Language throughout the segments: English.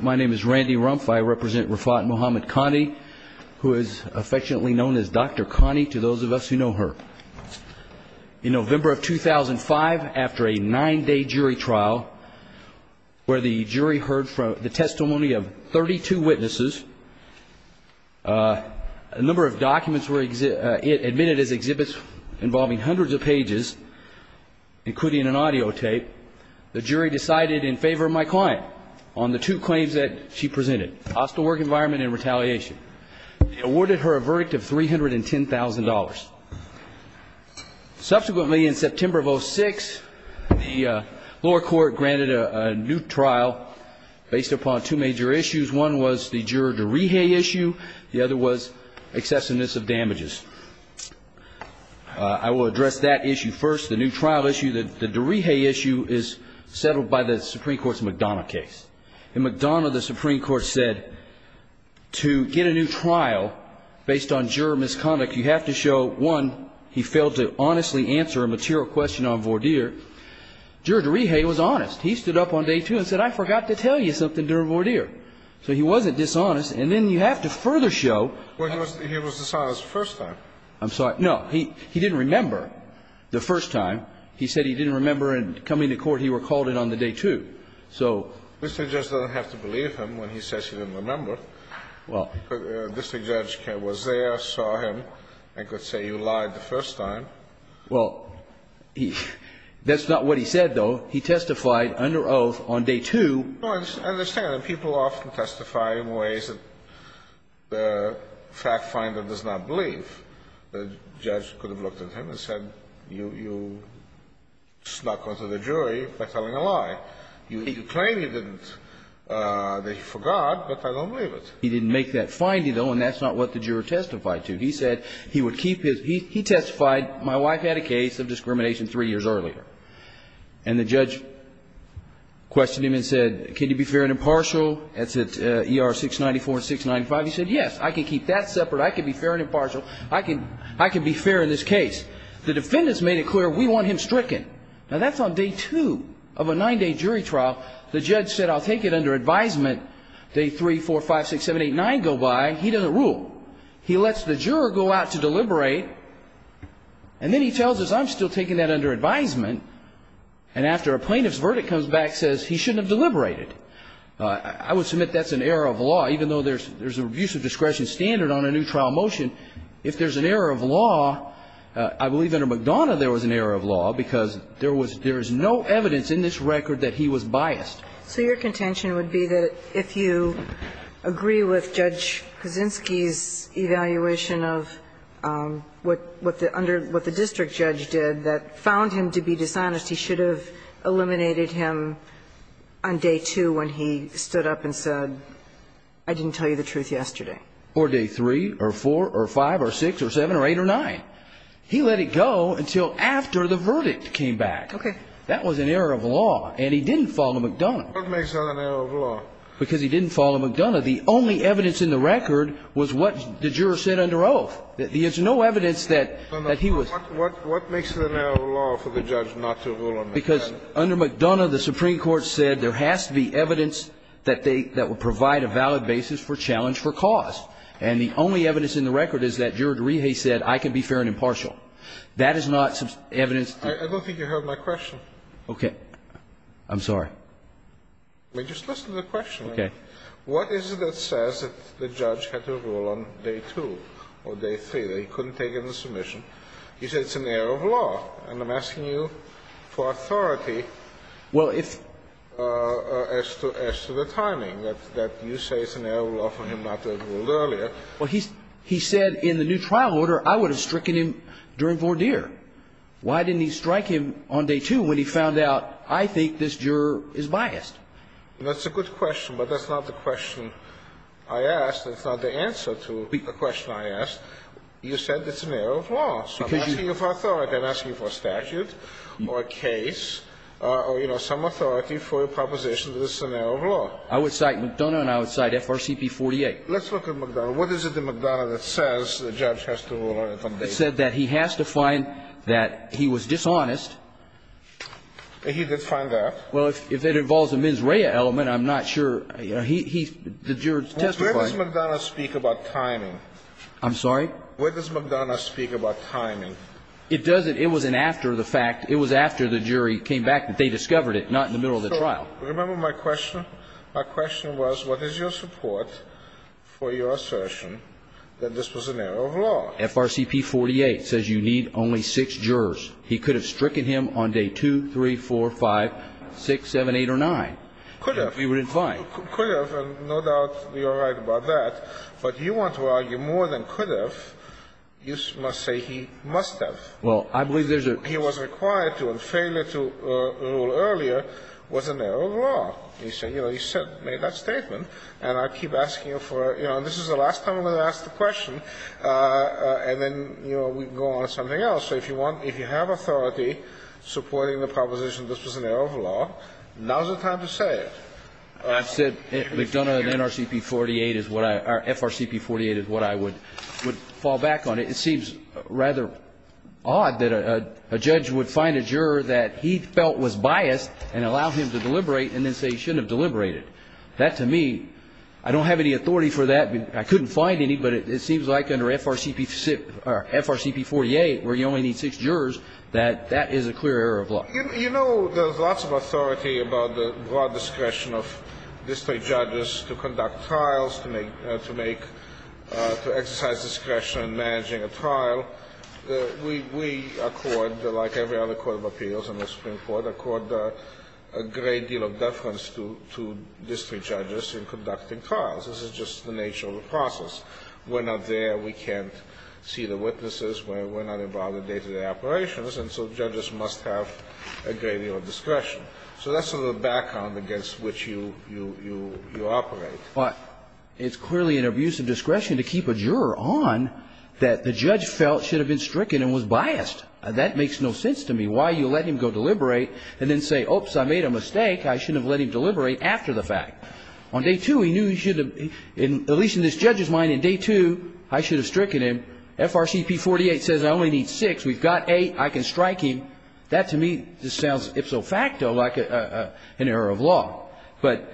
My name is Randy Rumpf. I represent Rafat Mohammed Khani, who is affectionately known as Dr. Khani to those of us who know her. In November of 2005, after a nine-day jury trial, where the jury heard the testimony of 32 witnesses, a number of documents were admitted as exhibits involving hundreds of pages, including an audio tape, the jury decided in favor of my client on the two claims that she presented, hostile work environment and retaliation. They awarded her a verdict of $310,000. Subsequently, in September of 2006, the lower court granted a new trial based upon two major issues. One was the juror de Rije issue. The other was excessiveness of damages. I will address that issue first, the new trial issue. The de Rije issue is settled by the Supreme Court's McDonough case. In McDonough, the Supreme Court said to get a new trial based on juror misconduct, you have to show, one, he failed to honestly answer a material question on voir dire. Juror de Rije was honest. He stood up on day two and said, I forgot to tell you something during voir dire. So he wasn't dishonest. And then you have to further show. Well, he was dishonest the first time. I'm sorry. No. He didn't remember the first time. He said he didn't remember coming to court, he recalled it on the day two. So. The district judge doesn't have to believe him when he says he didn't remember. Well. The district judge was there, saw him, and could say you lied the first time. Well, that's not what he said, though. He testified under oath on day two. No, I understand. People often testify in ways that the fact finder does not believe. The judge could have looked at him and said, you snuck onto the jury by telling a lie. You claim you didn't, that you forgot, but I don't believe it. He didn't make that finding, though, and that's not what the juror testified to. He said he would keep his, he testified, my wife had a case of discrimination three years earlier. And the judge questioned him and said, can you be fair and impartial? That's at ER 694 and 695. He said, yes, I can keep that separate. I can be fair and impartial. I can be fair in this case. The defendants made it clear we want him stricken. Now, that's on day two of a nine-day jury trial. The judge said I'll take it under advisement. Day three, four, five, six, seven, eight, nine go by. He doesn't rule. He lets the juror go out to deliberate. And then he tells us I'm still taking that under advisement, and after a plaintiff's verdict comes back, says he shouldn't have deliberated. I would submit that's an error of law, even though there's a reviews of discretion standard on a new trial motion. If there's an error of law, I believe under McDonough there was an error of law because there was, there is no evidence in this record that he was biased. So your contention would be that if you agree with Judge Kaczynski's evaluation of what the district judge did that found him to be dishonest, he should have eliminated him on day two when he stood up and said I didn't tell you the truth yesterday. Or day three or four or five or six or seven or eight or nine. He let it go until after the verdict came back. Okay. That was an error of law, and he didn't follow McDonough. What makes that an error of law? Because he didn't follow McDonough. Under McDonough, the only evidence in the record was what the juror said under oath. There's no evidence that he was. What makes it an error of law for the judge not to rule on McDonough? Because under McDonough the Supreme Court said there has to be evidence that they, that would provide a valid basis for challenge for cause. And the only evidence in the record is that Juror DeRije said I can be fair and impartial. That is not evidence. I don't think you heard my question. Okay. I'm sorry. Just listen to the question. What is it that says that the judge had to rule on day two or day three, that he couldn't take in the submission? You said it's an error of law. And I'm asking you for authority as to the timing, that you say it's an error of law for him not to have ruled earlier. Well, he said in the new trial order I would have stricken him during voir dire. Why didn't he strike him on day two when he found out I think this juror is biased? That's a good question, but that's not the question I asked. That's not the answer to the question I asked. You said it's an error of law. So I'm asking you for authority. I'm asking you for a statute or a case or, you know, some authority for a proposition that it's an error of law. I would cite McDonough and I would cite FRCP 48. Let's look at McDonough. What is it in McDonough that says the judge has to rule on it on day two? It said that he has to find that he was dishonest. He did find that. Well, if it involves a mens rea element, I'm not sure. The juror testified. Where does McDonough speak about timing? I'm sorry? Where does McDonough speak about timing? It doesn't. It was an after the fact. It was after the jury came back that they discovered it, not in the middle of the trial. Remember my question? My question was what is your support for your assertion that this was an error of law? FRCP 48 says you need only six jurors. He could have stricken him on day 2, 3, 4, 5, 6, 7, 8, or 9. Could have. He would have been fine. Could have, and no doubt you're right about that. But you want to argue more than could have, you must say he must have. Well, I believe there's a. He was required to and failure to rule earlier was an error of law. He said, you know, he said, made that statement. And I keep asking him for, you know, this is the last time I'm going to ask the question. And then, you know, we can go on to something else. So if you want, if you have authority supporting the proposition this was an error of law, now's the time to say it. I've said we've done an NRCP 48 is what I or FRCP 48 is what I would fall back on. It seems rather odd that a judge would find a juror that he felt was biased and allow him to deliberate and then say he shouldn't have deliberated. That to me, I don't have any authority for that. I mean, I couldn't find any, but it seems like under FRCP 48 where you only need six jurors, that that is a clear error of law. You know, there's lots of authority about the broad discretion of district judges to conduct trials, to make, to exercise discretion in managing a trial. We accord, like every other court of appeals in the Supreme Court, accord a great deal of deference to district judges in conducting trials. This is just the nature of the process. We're not there. We can't see the witnesses. We're not involved in day-to-day operations. And so judges must have a great deal of discretion. So that's the background against which you operate. But it's clearly an abuse of discretion to keep a juror on that the judge felt should have been stricken and was biased. That makes no sense to me. Why you let him go deliberate and then say, oops, I made a mistake. I shouldn't have let him deliberate after the fact. On day two, he knew he should have, at least in this judge's mind, in day two, I should have stricken him. FRCP 48 says I only need six. We've got eight. I can strike him. That to me just sounds ipso facto like an error of law. But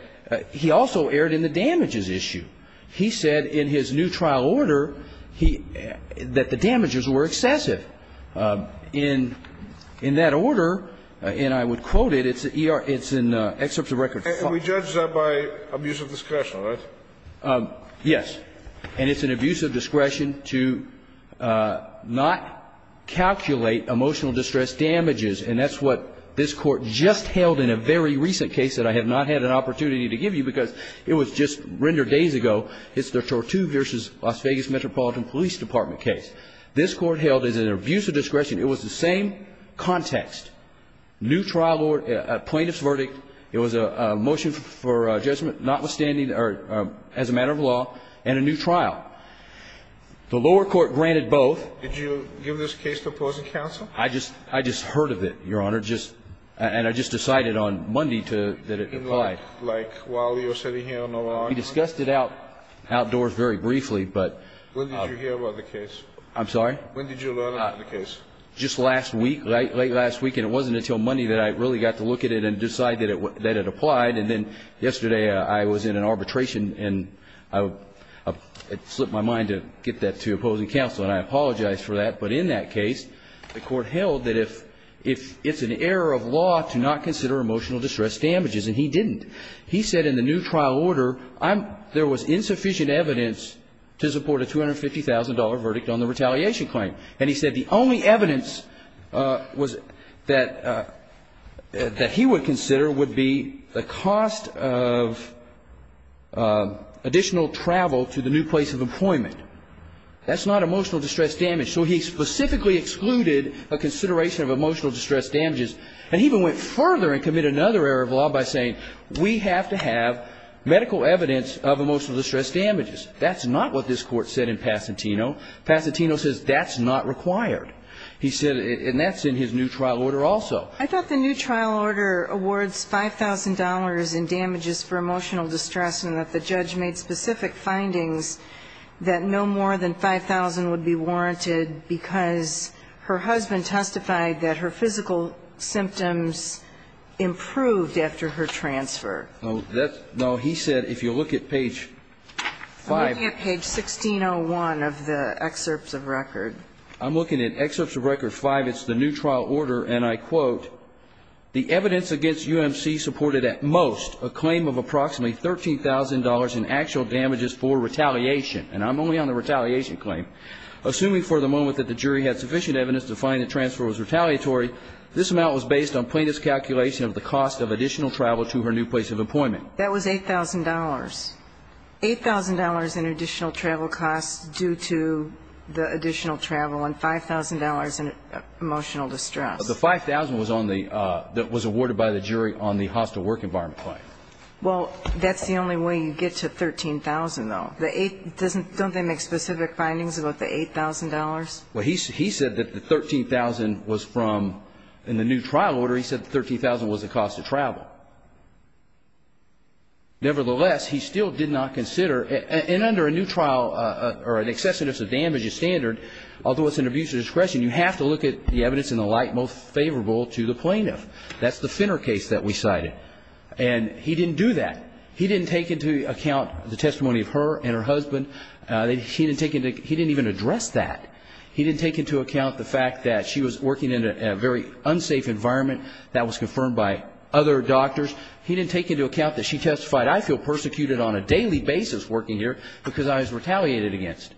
he also erred in the damages issue. He said in his new trial order that the damages were excessive. In that order, and I would quote it, it's in Excerpts of Record 5. We judge that by abuse of discretion, right? Yes. And it's an abuse of discretion to not calculate emotional distress damages. And that's what this Court just held in a very recent case that I have not had an opportunity to give you because it was just rendered days ago. It's the Tortu versus Las Vegas Metropolitan Police Department case. This Court held it as an abuse of discretion. It was the same context. New trial order, plaintiff's verdict. It was a motion for judgment notwithstanding or as a matter of law and a new trial. The lower court granted both. Did you give this case to opposing counsel? I just heard of it, Your Honor, and I just decided on Monday that it applied. Like while you were sitting here on the lawn? We discussed it outdoors very briefly. When did you hear about the case? I'm sorry? When did you learn about the case? Just last week, late last week. And it wasn't until Monday that I really got to look at it and decide that it applied. And then yesterday I was in an arbitration and it slipped my mind to get that to opposing counsel. And I apologize for that. But in that case, the Court held that if it's an error of law to not consider emotional distress damages, and he didn't. He said in the new trial order there was insufficient evidence to support a $250,000 verdict on the retaliation claim. And he said the only evidence that he would consider would be the cost of additional travel to the new place of employment. That's not emotional distress damage. So he specifically excluded a consideration of emotional distress damages. And he even went further and committed another error of law by saying we have to have medical evidence of emotional distress damages. That's not what this Court said in Pasatino. Pasatino says that's not required. He said, and that's in his new trial order also. I thought the new trial order awards $5,000 in damages for emotional distress and that the judge made specific findings that no more than $5,000 would be warranted because her husband testified that her physical symptoms improved after her transfer. No, he said if you look at page 5. I'm looking at page 1601 of the excerpts of record. I'm looking at excerpts of record 5. It's the new trial order, and I quote, the evidence against UMC supported at most a claim of approximately $13,000 in actual damages for retaliation. And I'm only on the retaliation claim. Assuming for the moment that the jury had sufficient evidence to find the transfer was retaliatory, this amount was based on plaintiff's calculation of the cost of additional travel to her new place of employment. That was $8,000. $8,000 in additional travel costs due to the additional travel and $5,000 in emotional distress. The $5,000 was awarded by the jury on the hostile work environment claim. Well, that's the only way you get to $13,000, though. Don't they make specific findings about the $8,000? Well, he said that the $13,000 was from the new trial order. He said the $13,000 was the cost of travel. Nevertheless, he still did not consider, and under a new trial or an excessiveness of damages standard, although it's an abuse of discretion, you have to look at the evidence in the light most favorable to the plaintiff. That's the Finner case that we cited. And he didn't do that. He didn't take into account the testimony of her and her husband. He didn't even address that. He didn't take into account the fact that she was working in a very unsafe environment. That was confirmed by other doctors. He didn't take into account that she testified, I feel persecuted on a daily basis working here because I was retaliated against.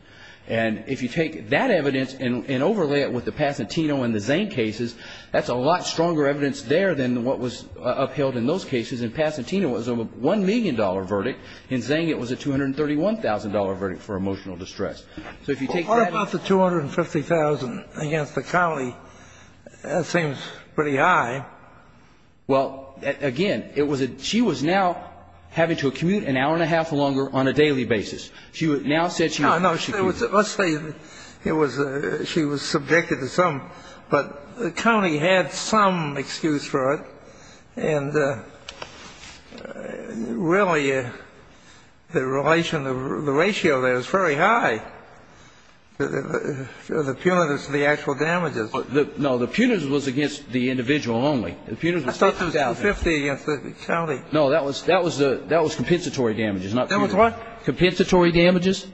And if you take that evidence and overlay it with the Pacentino and the Zhang cases, that's a lot stronger evidence there than what was upheld in those cases. And Pacentino was a $1 million verdict. In Zhang, it was a $231,000 verdict for emotional distress. So if you take that up. Kennedy, what about the $250,000 against the county? That seems pretty high. Well, again, it was a – she was now having to commute an hour and a half or longer on a daily basis. She would now set you up. No, no. Let's say it was a – she was subjected to some – but the county had some excuse for it. And really, the relation, the ratio there is very high. The punitives to the actual damages. No, the punitives was against the individual only. I thought there was $250,000 against the county. No, that was compensatory damages, not punitive. That was what? Compensatory damages.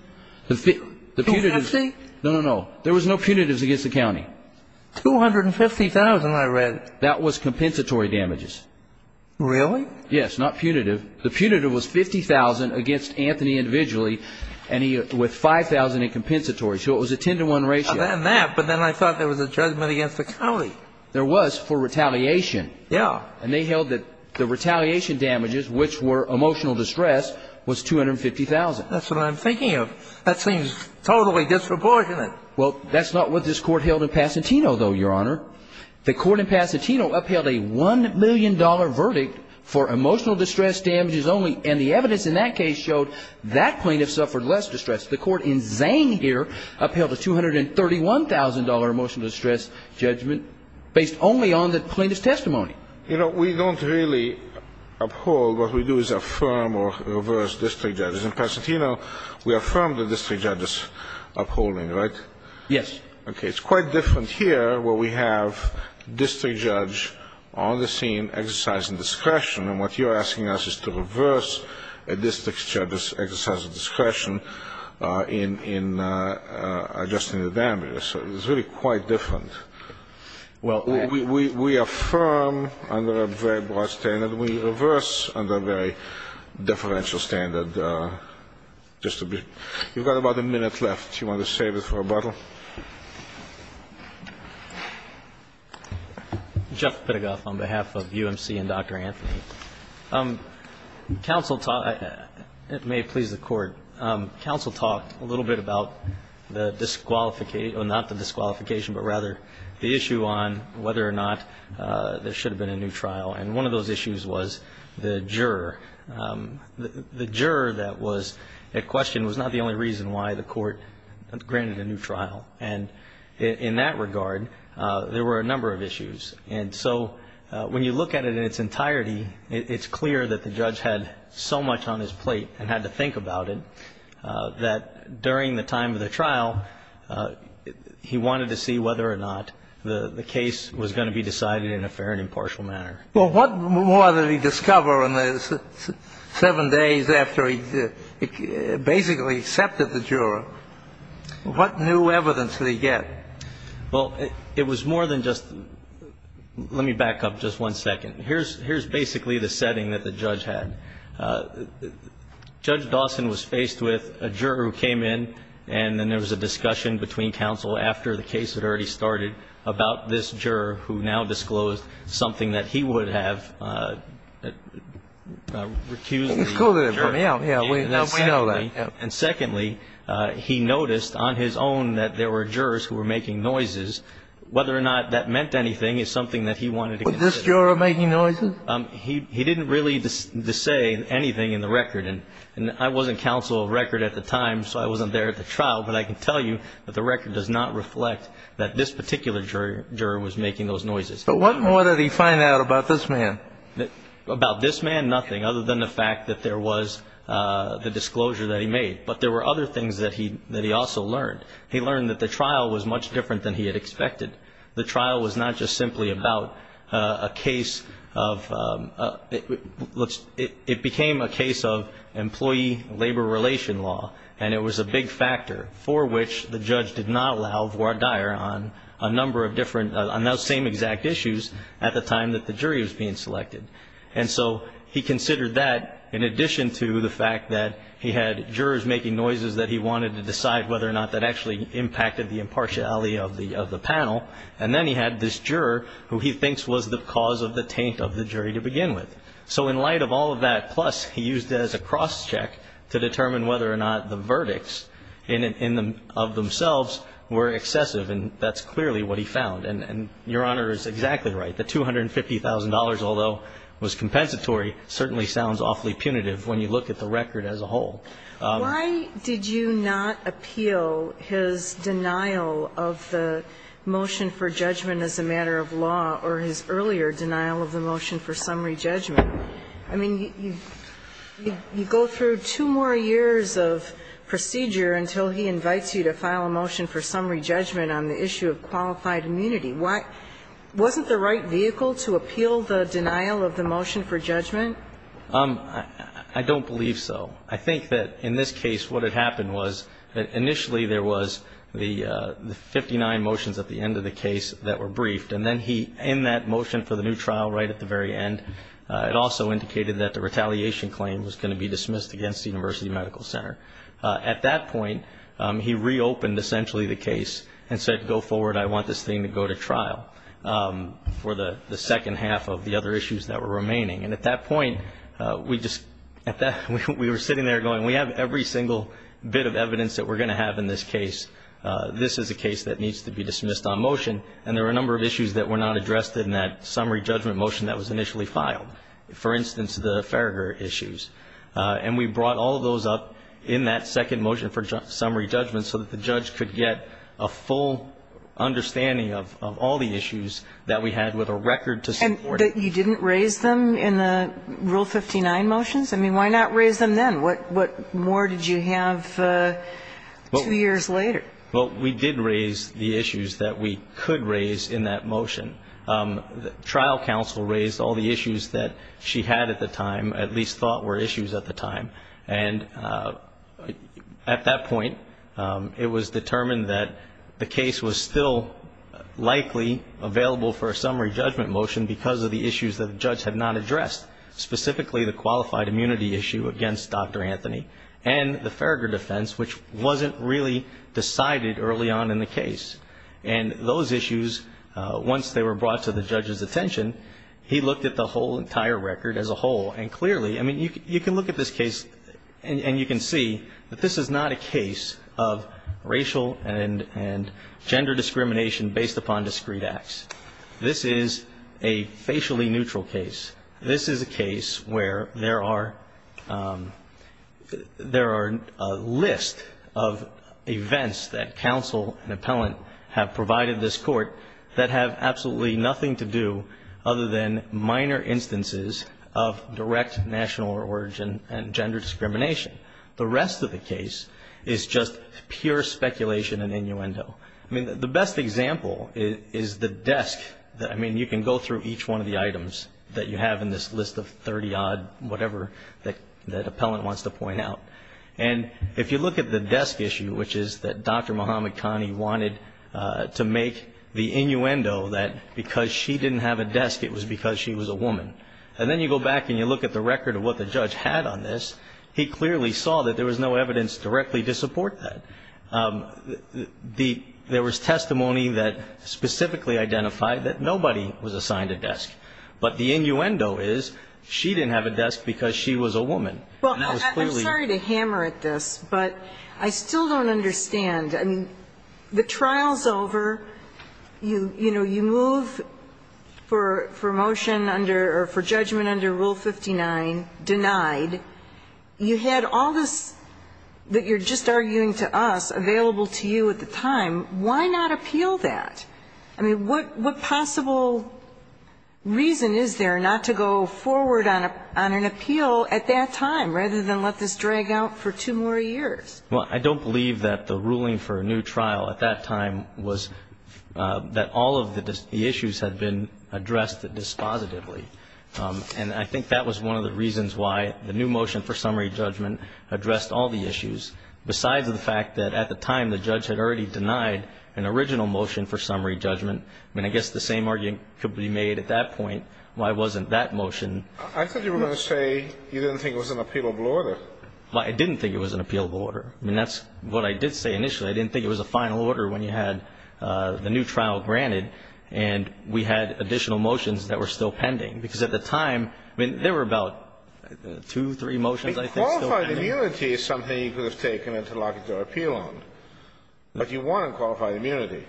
$250,000? No, no, no. There was no punitives against the county. $250,000, I read. That was compensatory damages. Really? Yes, not punitive. The punitive was $50,000 against Anthony individually with $5,000 in compensatory. So it was a 10-to-1 ratio. But then I thought there was a judgment against the county. There was for retaliation. Yeah. And they held that the retaliation damages, which were emotional distress, was $250,000. That's what I'm thinking of. That seems totally disproportionate. Well, that's not what this Court held in Pasatino, though, Your Honor. The Court in Pasatino upheld a $1 million verdict for emotional distress damages only. And the evidence in that case showed that plaintiff suffered less distress. The Court in Zane here upheld a $231,000 emotional distress judgment based only on the plaintiff's testimony. You know, we don't really uphold. What we do is affirm or reverse district judges. In Pasatino, we affirm the district judges upholding, right? Yes. Okay. It's quite different here where we have district judge on the scene exercising discretion. And what you're asking us is to reverse a district judge's exercise of discretion in adjusting the damages. So it's really quite different. Well, we affirm under a very broad standard. We reverse under a very differential standard. You've got about a minute left. Do you want to save it for rebuttal? Jeff Pittegoff on behalf of UMC and Dr. Anthony. Counsel talked ‑‑ it may please the Court. Counsel talked a little bit about the disqualification ‑‑ or not the disqualification, but rather the issue on whether or not there should have been a new trial. And one of those issues was the juror. The juror that was at question was not the only reason why the Court granted a new trial. And in that regard, there were a number of issues. And so when you look at it in its entirety, it's clear that the judge had so much on his plate and had to think about it that during the time of the trial, he wanted to see whether or not the case was going to be decided in a fair and impartial manner. Well, what more did he discover in the seven days after he basically accepted the juror? What new evidence did he get? Well, it was more than just ‑‑ let me back up just one second. Here's basically the setting that the judge had. Judge Dawson was faced with a juror who came in, and then there was a discussion between counsel after the case had already started about this juror who now disclosed something that he would have recused the juror. Disclosed it from him. Yeah, we know that. And secondly, he noticed on his own that there were jurors who were making noises. Whether or not that meant anything is something that he wanted to consider. Was this juror making noises? He didn't really say anything in the record. And I wasn't counsel of record at the time, so I wasn't there at the trial, but I can tell you that the record does not reflect that this particular juror was making those noises. But what more did he find out about this man? About this man, nothing, other than the fact that there was the disclosure that he made. But there were other things that he also learned. He learned that the trial was much different than he had expected. The trial was not just simply about a case of ‑‑ it became a case of employee labor relation law, and it was a big factor for which the judge did not allow voir dire on a number of different, on those same exact issues at the time that the jury was being selected. And so he considered that in addition to the fact that he had jurors making noises that he wanted to decide whether or not that actually impacted the impartiality of the panel. And then he had this juror who he thinks was the cause of the taint of the jury to begin with. So in light of all of that, plus he used it as a cross check to determine whether or not the verdicts of themselves were excessive, and that's clearly what he found. And Your Honor is exactly right. The $250,000, although it was compensatory, certainly sounds awfully punitive when you look at the record as a whole. Why did you not appeal his denial of the motion for judgment as a matter of law or his earlier denial of the motion for summary judgment? I mean, you go through two more years of procedure until he invites you to file a motion for summary judgment on the issue of qualified immunity. Wasn't the right vehicle to appeal the denial of the motion for judgment? I don't believe so. I think that in this case what had happened was that initially there was the 59 motions at the end of the case that were briefed, and then he, in that motion for the new trial right at the very end, it also indicated that the retaliation claim was going to be dismissed against the University Medical Center. At that point, he reopened essentially the case and said, go forward, I want this thing to go to trial for the second half of the other issues that were remaining. And at that point, we were sitting there going, we have every single bit of evidence that we're going to have in this case. This is a case that needs to be dismissed on motion, and there were a number of issues that were not addressed in that summary judgment motion that was initially filed. For instance, the Farragher issues. And we brought all of those up in that second motion for summary judgment so that the judge could get a full understanding of all the issues that we had with a record to support it. And you didn't raise them in the Rule 59 motions? I mean, why not raise them then? What more did you have two years later? Well, we did raise the issues that we could raise in that motion. Trial counsel raised all the issues that she had at the time, at least thought were issues at the time. And at that point, it was determined that the case was still likely available for a summary judgment motion because of the issues that the judge had not addressed, specifically the qualified immunity issue against Dr. Anthony and the Farragher defense, which wasn't really decided early on in the case. And those issues, once they were brought to the judge's attention, he looked at the whole entire record as a whole, and clearly, I mean, you can look at this case and you can see that this is not a case of racial and gender discrimination based upon discrete acts. This is a facially neutral case. This is a case where there are a list of events that counsel and appellant have provided this court that have absolutely nothing to do other than minor instances of direct national origin and gender discrimination. The rest of the case is just pure speculation and innuendo. I mean, the best example is the desk. I mean, you can go through each one of the items that you have in this list of 30-odd, whatever that appellant wants to point out. And if you look at the desk issue, which is that Dr. Muhammad Kani wanted to make the innuendo that because she didn't have a desk, it was because she was a woman. And then you go back and you look at the record of what the judge had on this, he clearly saw that there was no evidence directly to support that. There was testimony that specifically identified that nobody was assigned a desk. But the innuendo is she didn't have a desk because she was a woman. And that was clearly the case. Well, I'm sorry to hammer at this, but I still don't understand. I mean, the trial's over. You know, you move for motion under or for judgment under Rule 59, denied. You had all this that you're just arguing to us available to you at the time. Why not appeal that? I mean, what possible reason is there not to go forward on an appeal at that time rather than let this drag out for two more years? Well, I don't believe that the ruling for a new trial at that time was that all of the issues had been addressed dispositively. And I think that was one of the reasons why the new motion for summary judgment addressed all the issues. Besides the fact that at the time the judge had already denied an original motion for summary judgment, I mean, I guess the same argument could be made at that point. Why wasn't that motion? I thought you were going to say you didn't think it was an appealable order. Well, I didn't think it was an appealable order. I mean, that's what I did say initially. I didn't think it was a final order when you had the new trial granted and we had additional motions that were still pending. Because at the time, I mean, there were about two, three motions, I think, still pending. But qualified immunity is something you could have taken an interlocutor appeal on. But you won on qualified immunity.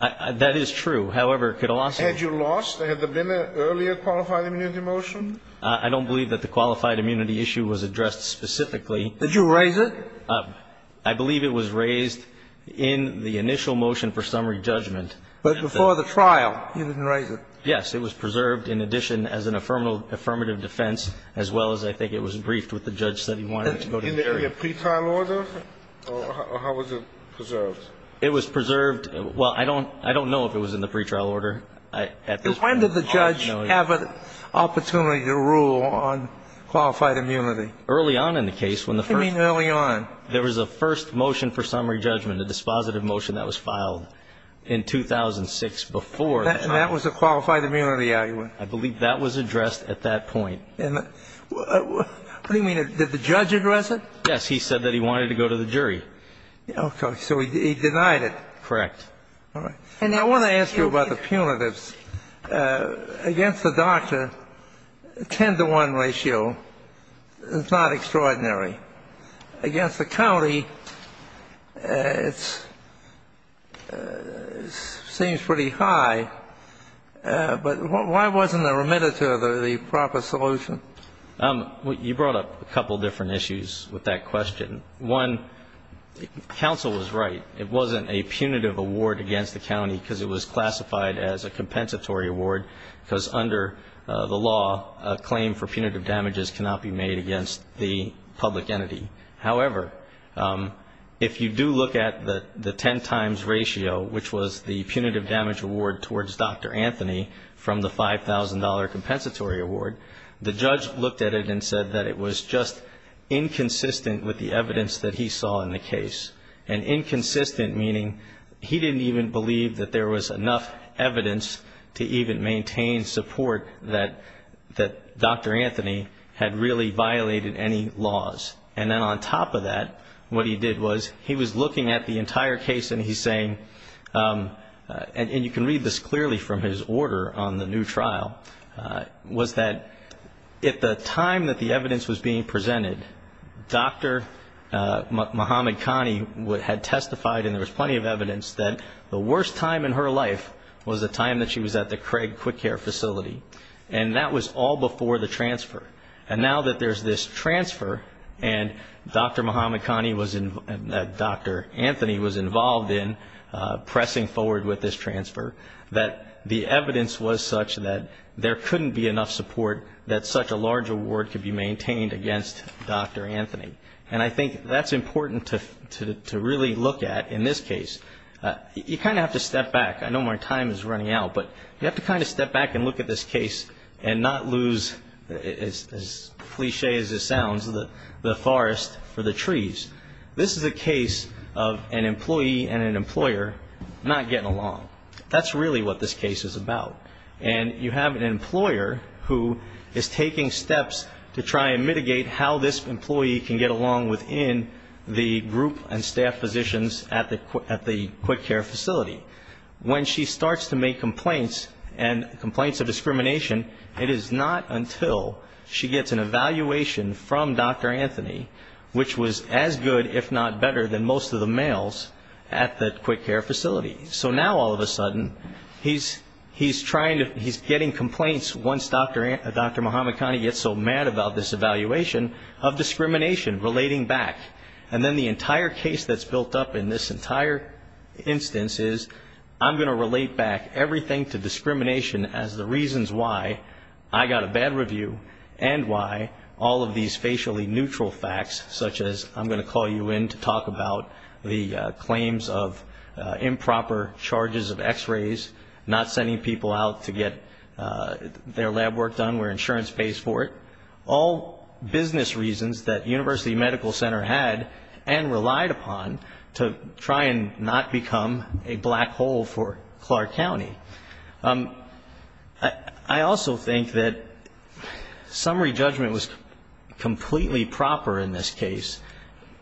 That is true. However, it could have lost you. Had you lost? Had there been an earlier qualified immunity motion? I don't believe that the qualified immunity issue was addressed specifically. Did you raise it? I believe it was raised in the initial motion for summary judgment. But before the trial, you didn't raise it? Yes. It was preserved in addition as an affirmative defense, as well as I think it was briefed with the judge that he wanted it to go to the jury. In the pre-trial order? Or how was it preserved? It was preserved. Well, I don't know if it was in the pre-trial order. When did the judge have an opportunity to rule on qualified immunity? Early on in the case. What do you mean early on? There was a first motion for summary judgment, a dispositive motion that was filed in 2006 before the trial. And that was a qualified immunity argument? I believe that was addressed at that point. What do you mean? Did the judge address it? Yes. He said that he wanted it to go to the jury. Okay. So he denied it. Correct. All right. And I want to ask you about the punitives. Against the doctor, a 10-to-1 ratio is not extraordinary. Against the county, it seems pretty high. But why wasn't there a remittance of the proper solution? You brought up a couple of different issues with that question. One, counsel was right. It wasn't a punitive award against the county because it was classified as a compensatory award because under the law, a claim for punitive damages cannot be made against the public entity. However, if you do look at the 10 times ratio, which was the punitive damage award towards Dr. Anthony from the $5,000 compensatory award, the judge looked at it and said that it was just inconsistent with the evidence that he saw in the case, and inconsistent meaning he didn't even believe that there was enough evidence to even maintain support that Dr. Anthony had really violated any laws. And then on top of that, what he did was he was looking at the entire case and he's saying, and you can read this clearly from his order on the new trial, was that at the time that the evidence was being presented, Dr. Muhammad Kani had testified, and there was plenty of evidence, that the worst time in her life was the time that she was at the Craig Quick Care Facility. And that was all before the transfer. And now that there's this transfer, and Dr. Muhammad Kani was, Dr. Anthony was involved in pressing forward with this transfer, that the evidence was such that there couldn't be enough support that such a large award could be maintained against Dr. Anthony. And I think that's important to really look at in this case. You kind of have to step back. I know my time is running out, but you have to kind of step back and look at this case and not lose, as cliche as it sounds, the forest for the trees. This is a case of an employee and an employer not getting along. That's really what this case is about. And you have an employer who is taking steps to try and mitigate how this employee can get along within the group and staff positions at the Quick Care Facility. When she starts to make complaints and complaints of discrimination, it is not until she gets an evaluation from Dr. Anthony, which was as good, if not better, than most of the males at the Quick Care Facility. So now, all of a sudden, he's getting complaints once Dr. Mohamedkhani gets so mad about this evaluation of discrimination, relating back. And then the entire case that's built up in this entire instance is, I'm going to relate back everything to discrimination as the reasons why I got a bad review and why all of these facially neutral facts, such as, I'm going to call you in to talk about the claims of improper charges of x-rays, not sending people out to get their lab work done where insurance pays for it, all business reasons that University Medical Center had and relied upon to try and not become a black hole for Clark County. I also think that summary judgment was completely proper in this case,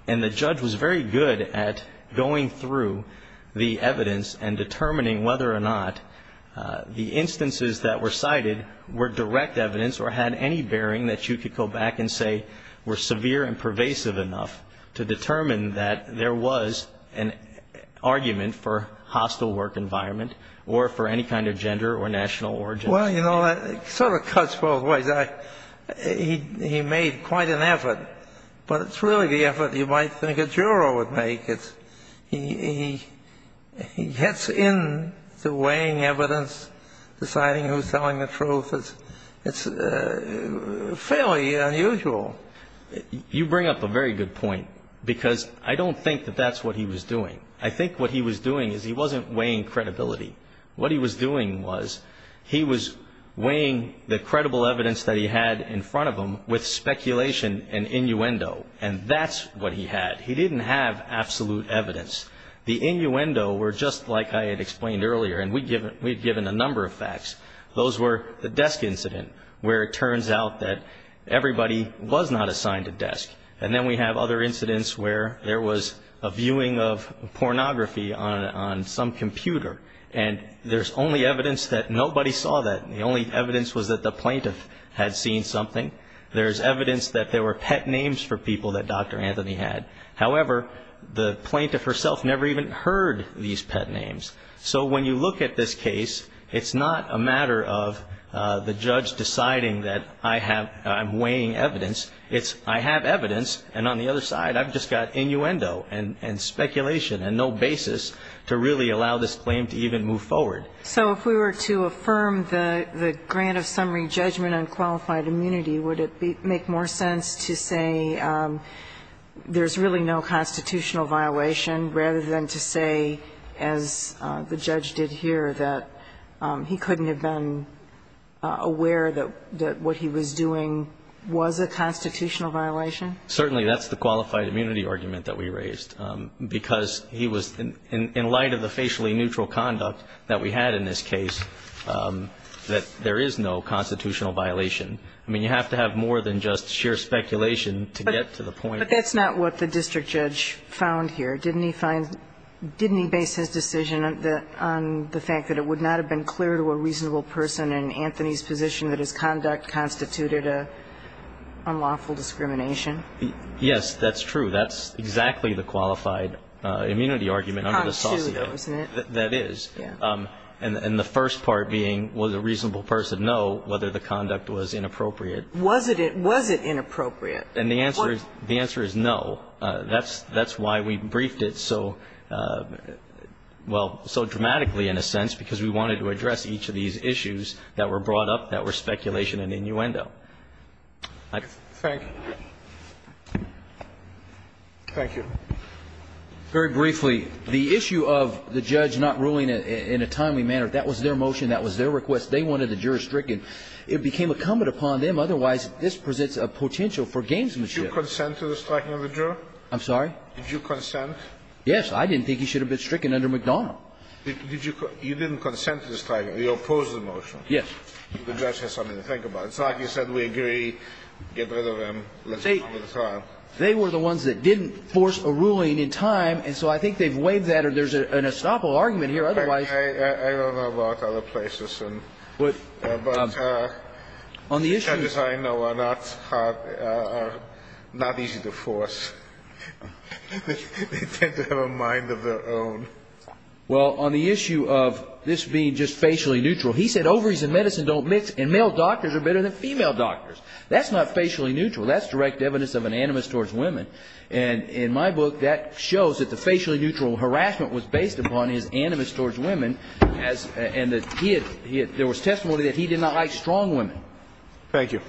and the judge was very good at going through the evidence and determining whether or not the instances that were cited were direct evidence or had any bearing that you could go back and say were severe and pervasive enough to determine that there was an argument for hostile work environment or for any kind of gender or national origin. Well, you know, it sort of cuts both ways. He made quite an effort, but it's really the effort you might think a juror would make. He gets into weighing evidence, deciding who's telling the truth. It's fairly unusual. You bring up a very good point, because I don't think that that's what he was doing. I think what he was doing is he wasn't weighing credibility. What he was doing was he was weighing the credible evidence that he had in front of him with speculation and innuendo, and that's what he had. He didn't have absolute evidence. The innuendo were just like I had explained earlier, and we'd given a number of facts. Those were the desk incident, where it turns out that everybody was not assigned a desk. And then we have other incidents where there was a viewing of pornography on some computer, and there's only evidence that nobody saw that. The only evidence was that the plaintiff had seen something. There's evidence that there were pet names for people that Dr. Anthony had. However, the plaintiff herself never even heard these pet names. So when you look at this case, it's not a matter of the judge deciding that I'm weighing evidence. It's I have evidence, and on the other side I've just got innuendo and speculation and no basis to really allow this claim to even move forward. So if we were to affirm the grant of summary judgment on qualified immunity, would it make more sense to say there's really no constitutional violation, rather than to say, as the judge did here, that he couldn't have been aware that what he was doing was a constitutional violation? Certainly. That's the qualified immunity argument that we raised. Because he was, in light of the facially neutral conduct that we had in this case, that there is no constitutional violation. I mean, you have to have more than just sheer speculation to get to the point. But that's not what the district judge found here, didn't he? Did he base his decision on the fact that it would not have been clear to a reasonable person in Anthony's position that his conduct constituted an unlawful discrimination? Yes, that's true. That's exactly the qualified immunity argument under the SOSIA. That is. And the first part being, was a reasonable person, no, whether the conduct was inappropriate. Was it inappropriate? And the answer is no. That's why we briefed it so, well, so dramatically, in a sense, because we wanted to address each of these issues that were brought up that were speculation and innuendo. Thank you. Very briefly, the issue of the judge not ruling in a timely manner, that was their motion. That was their request. They wanted to jurisdict it. It became incumbent upon them. Otherwise, this presents a potential for gamesmanship. Did you consent to the striking of the juror? I'm sorry? Did you consent? Yes. I didn't think he should have been stricken under McDonnell. You didn't consent to the striking. You opposed the motion. Yes. The judge has something to think about. It's like you said. We agree. Get rid of him. They were the ones that didn't force a ruling in time. And so I think they've waived that. Or there's an estoppel argument here. Otherwise. I don't know about other places. But on the issue. The judges I know are not easy to force. They tend to have a mind of their own. Well, on the issue of this being just facially neutral, he said ovaries and medicine don't mix. And male doctors are better than female doctors. That's not facially neutral. That's direct evidence of an animus towards women. And in my book, that shows that the facially neutral harassment was based upon his animus towards women. And there was testimony that he did not like strong women. Thank you.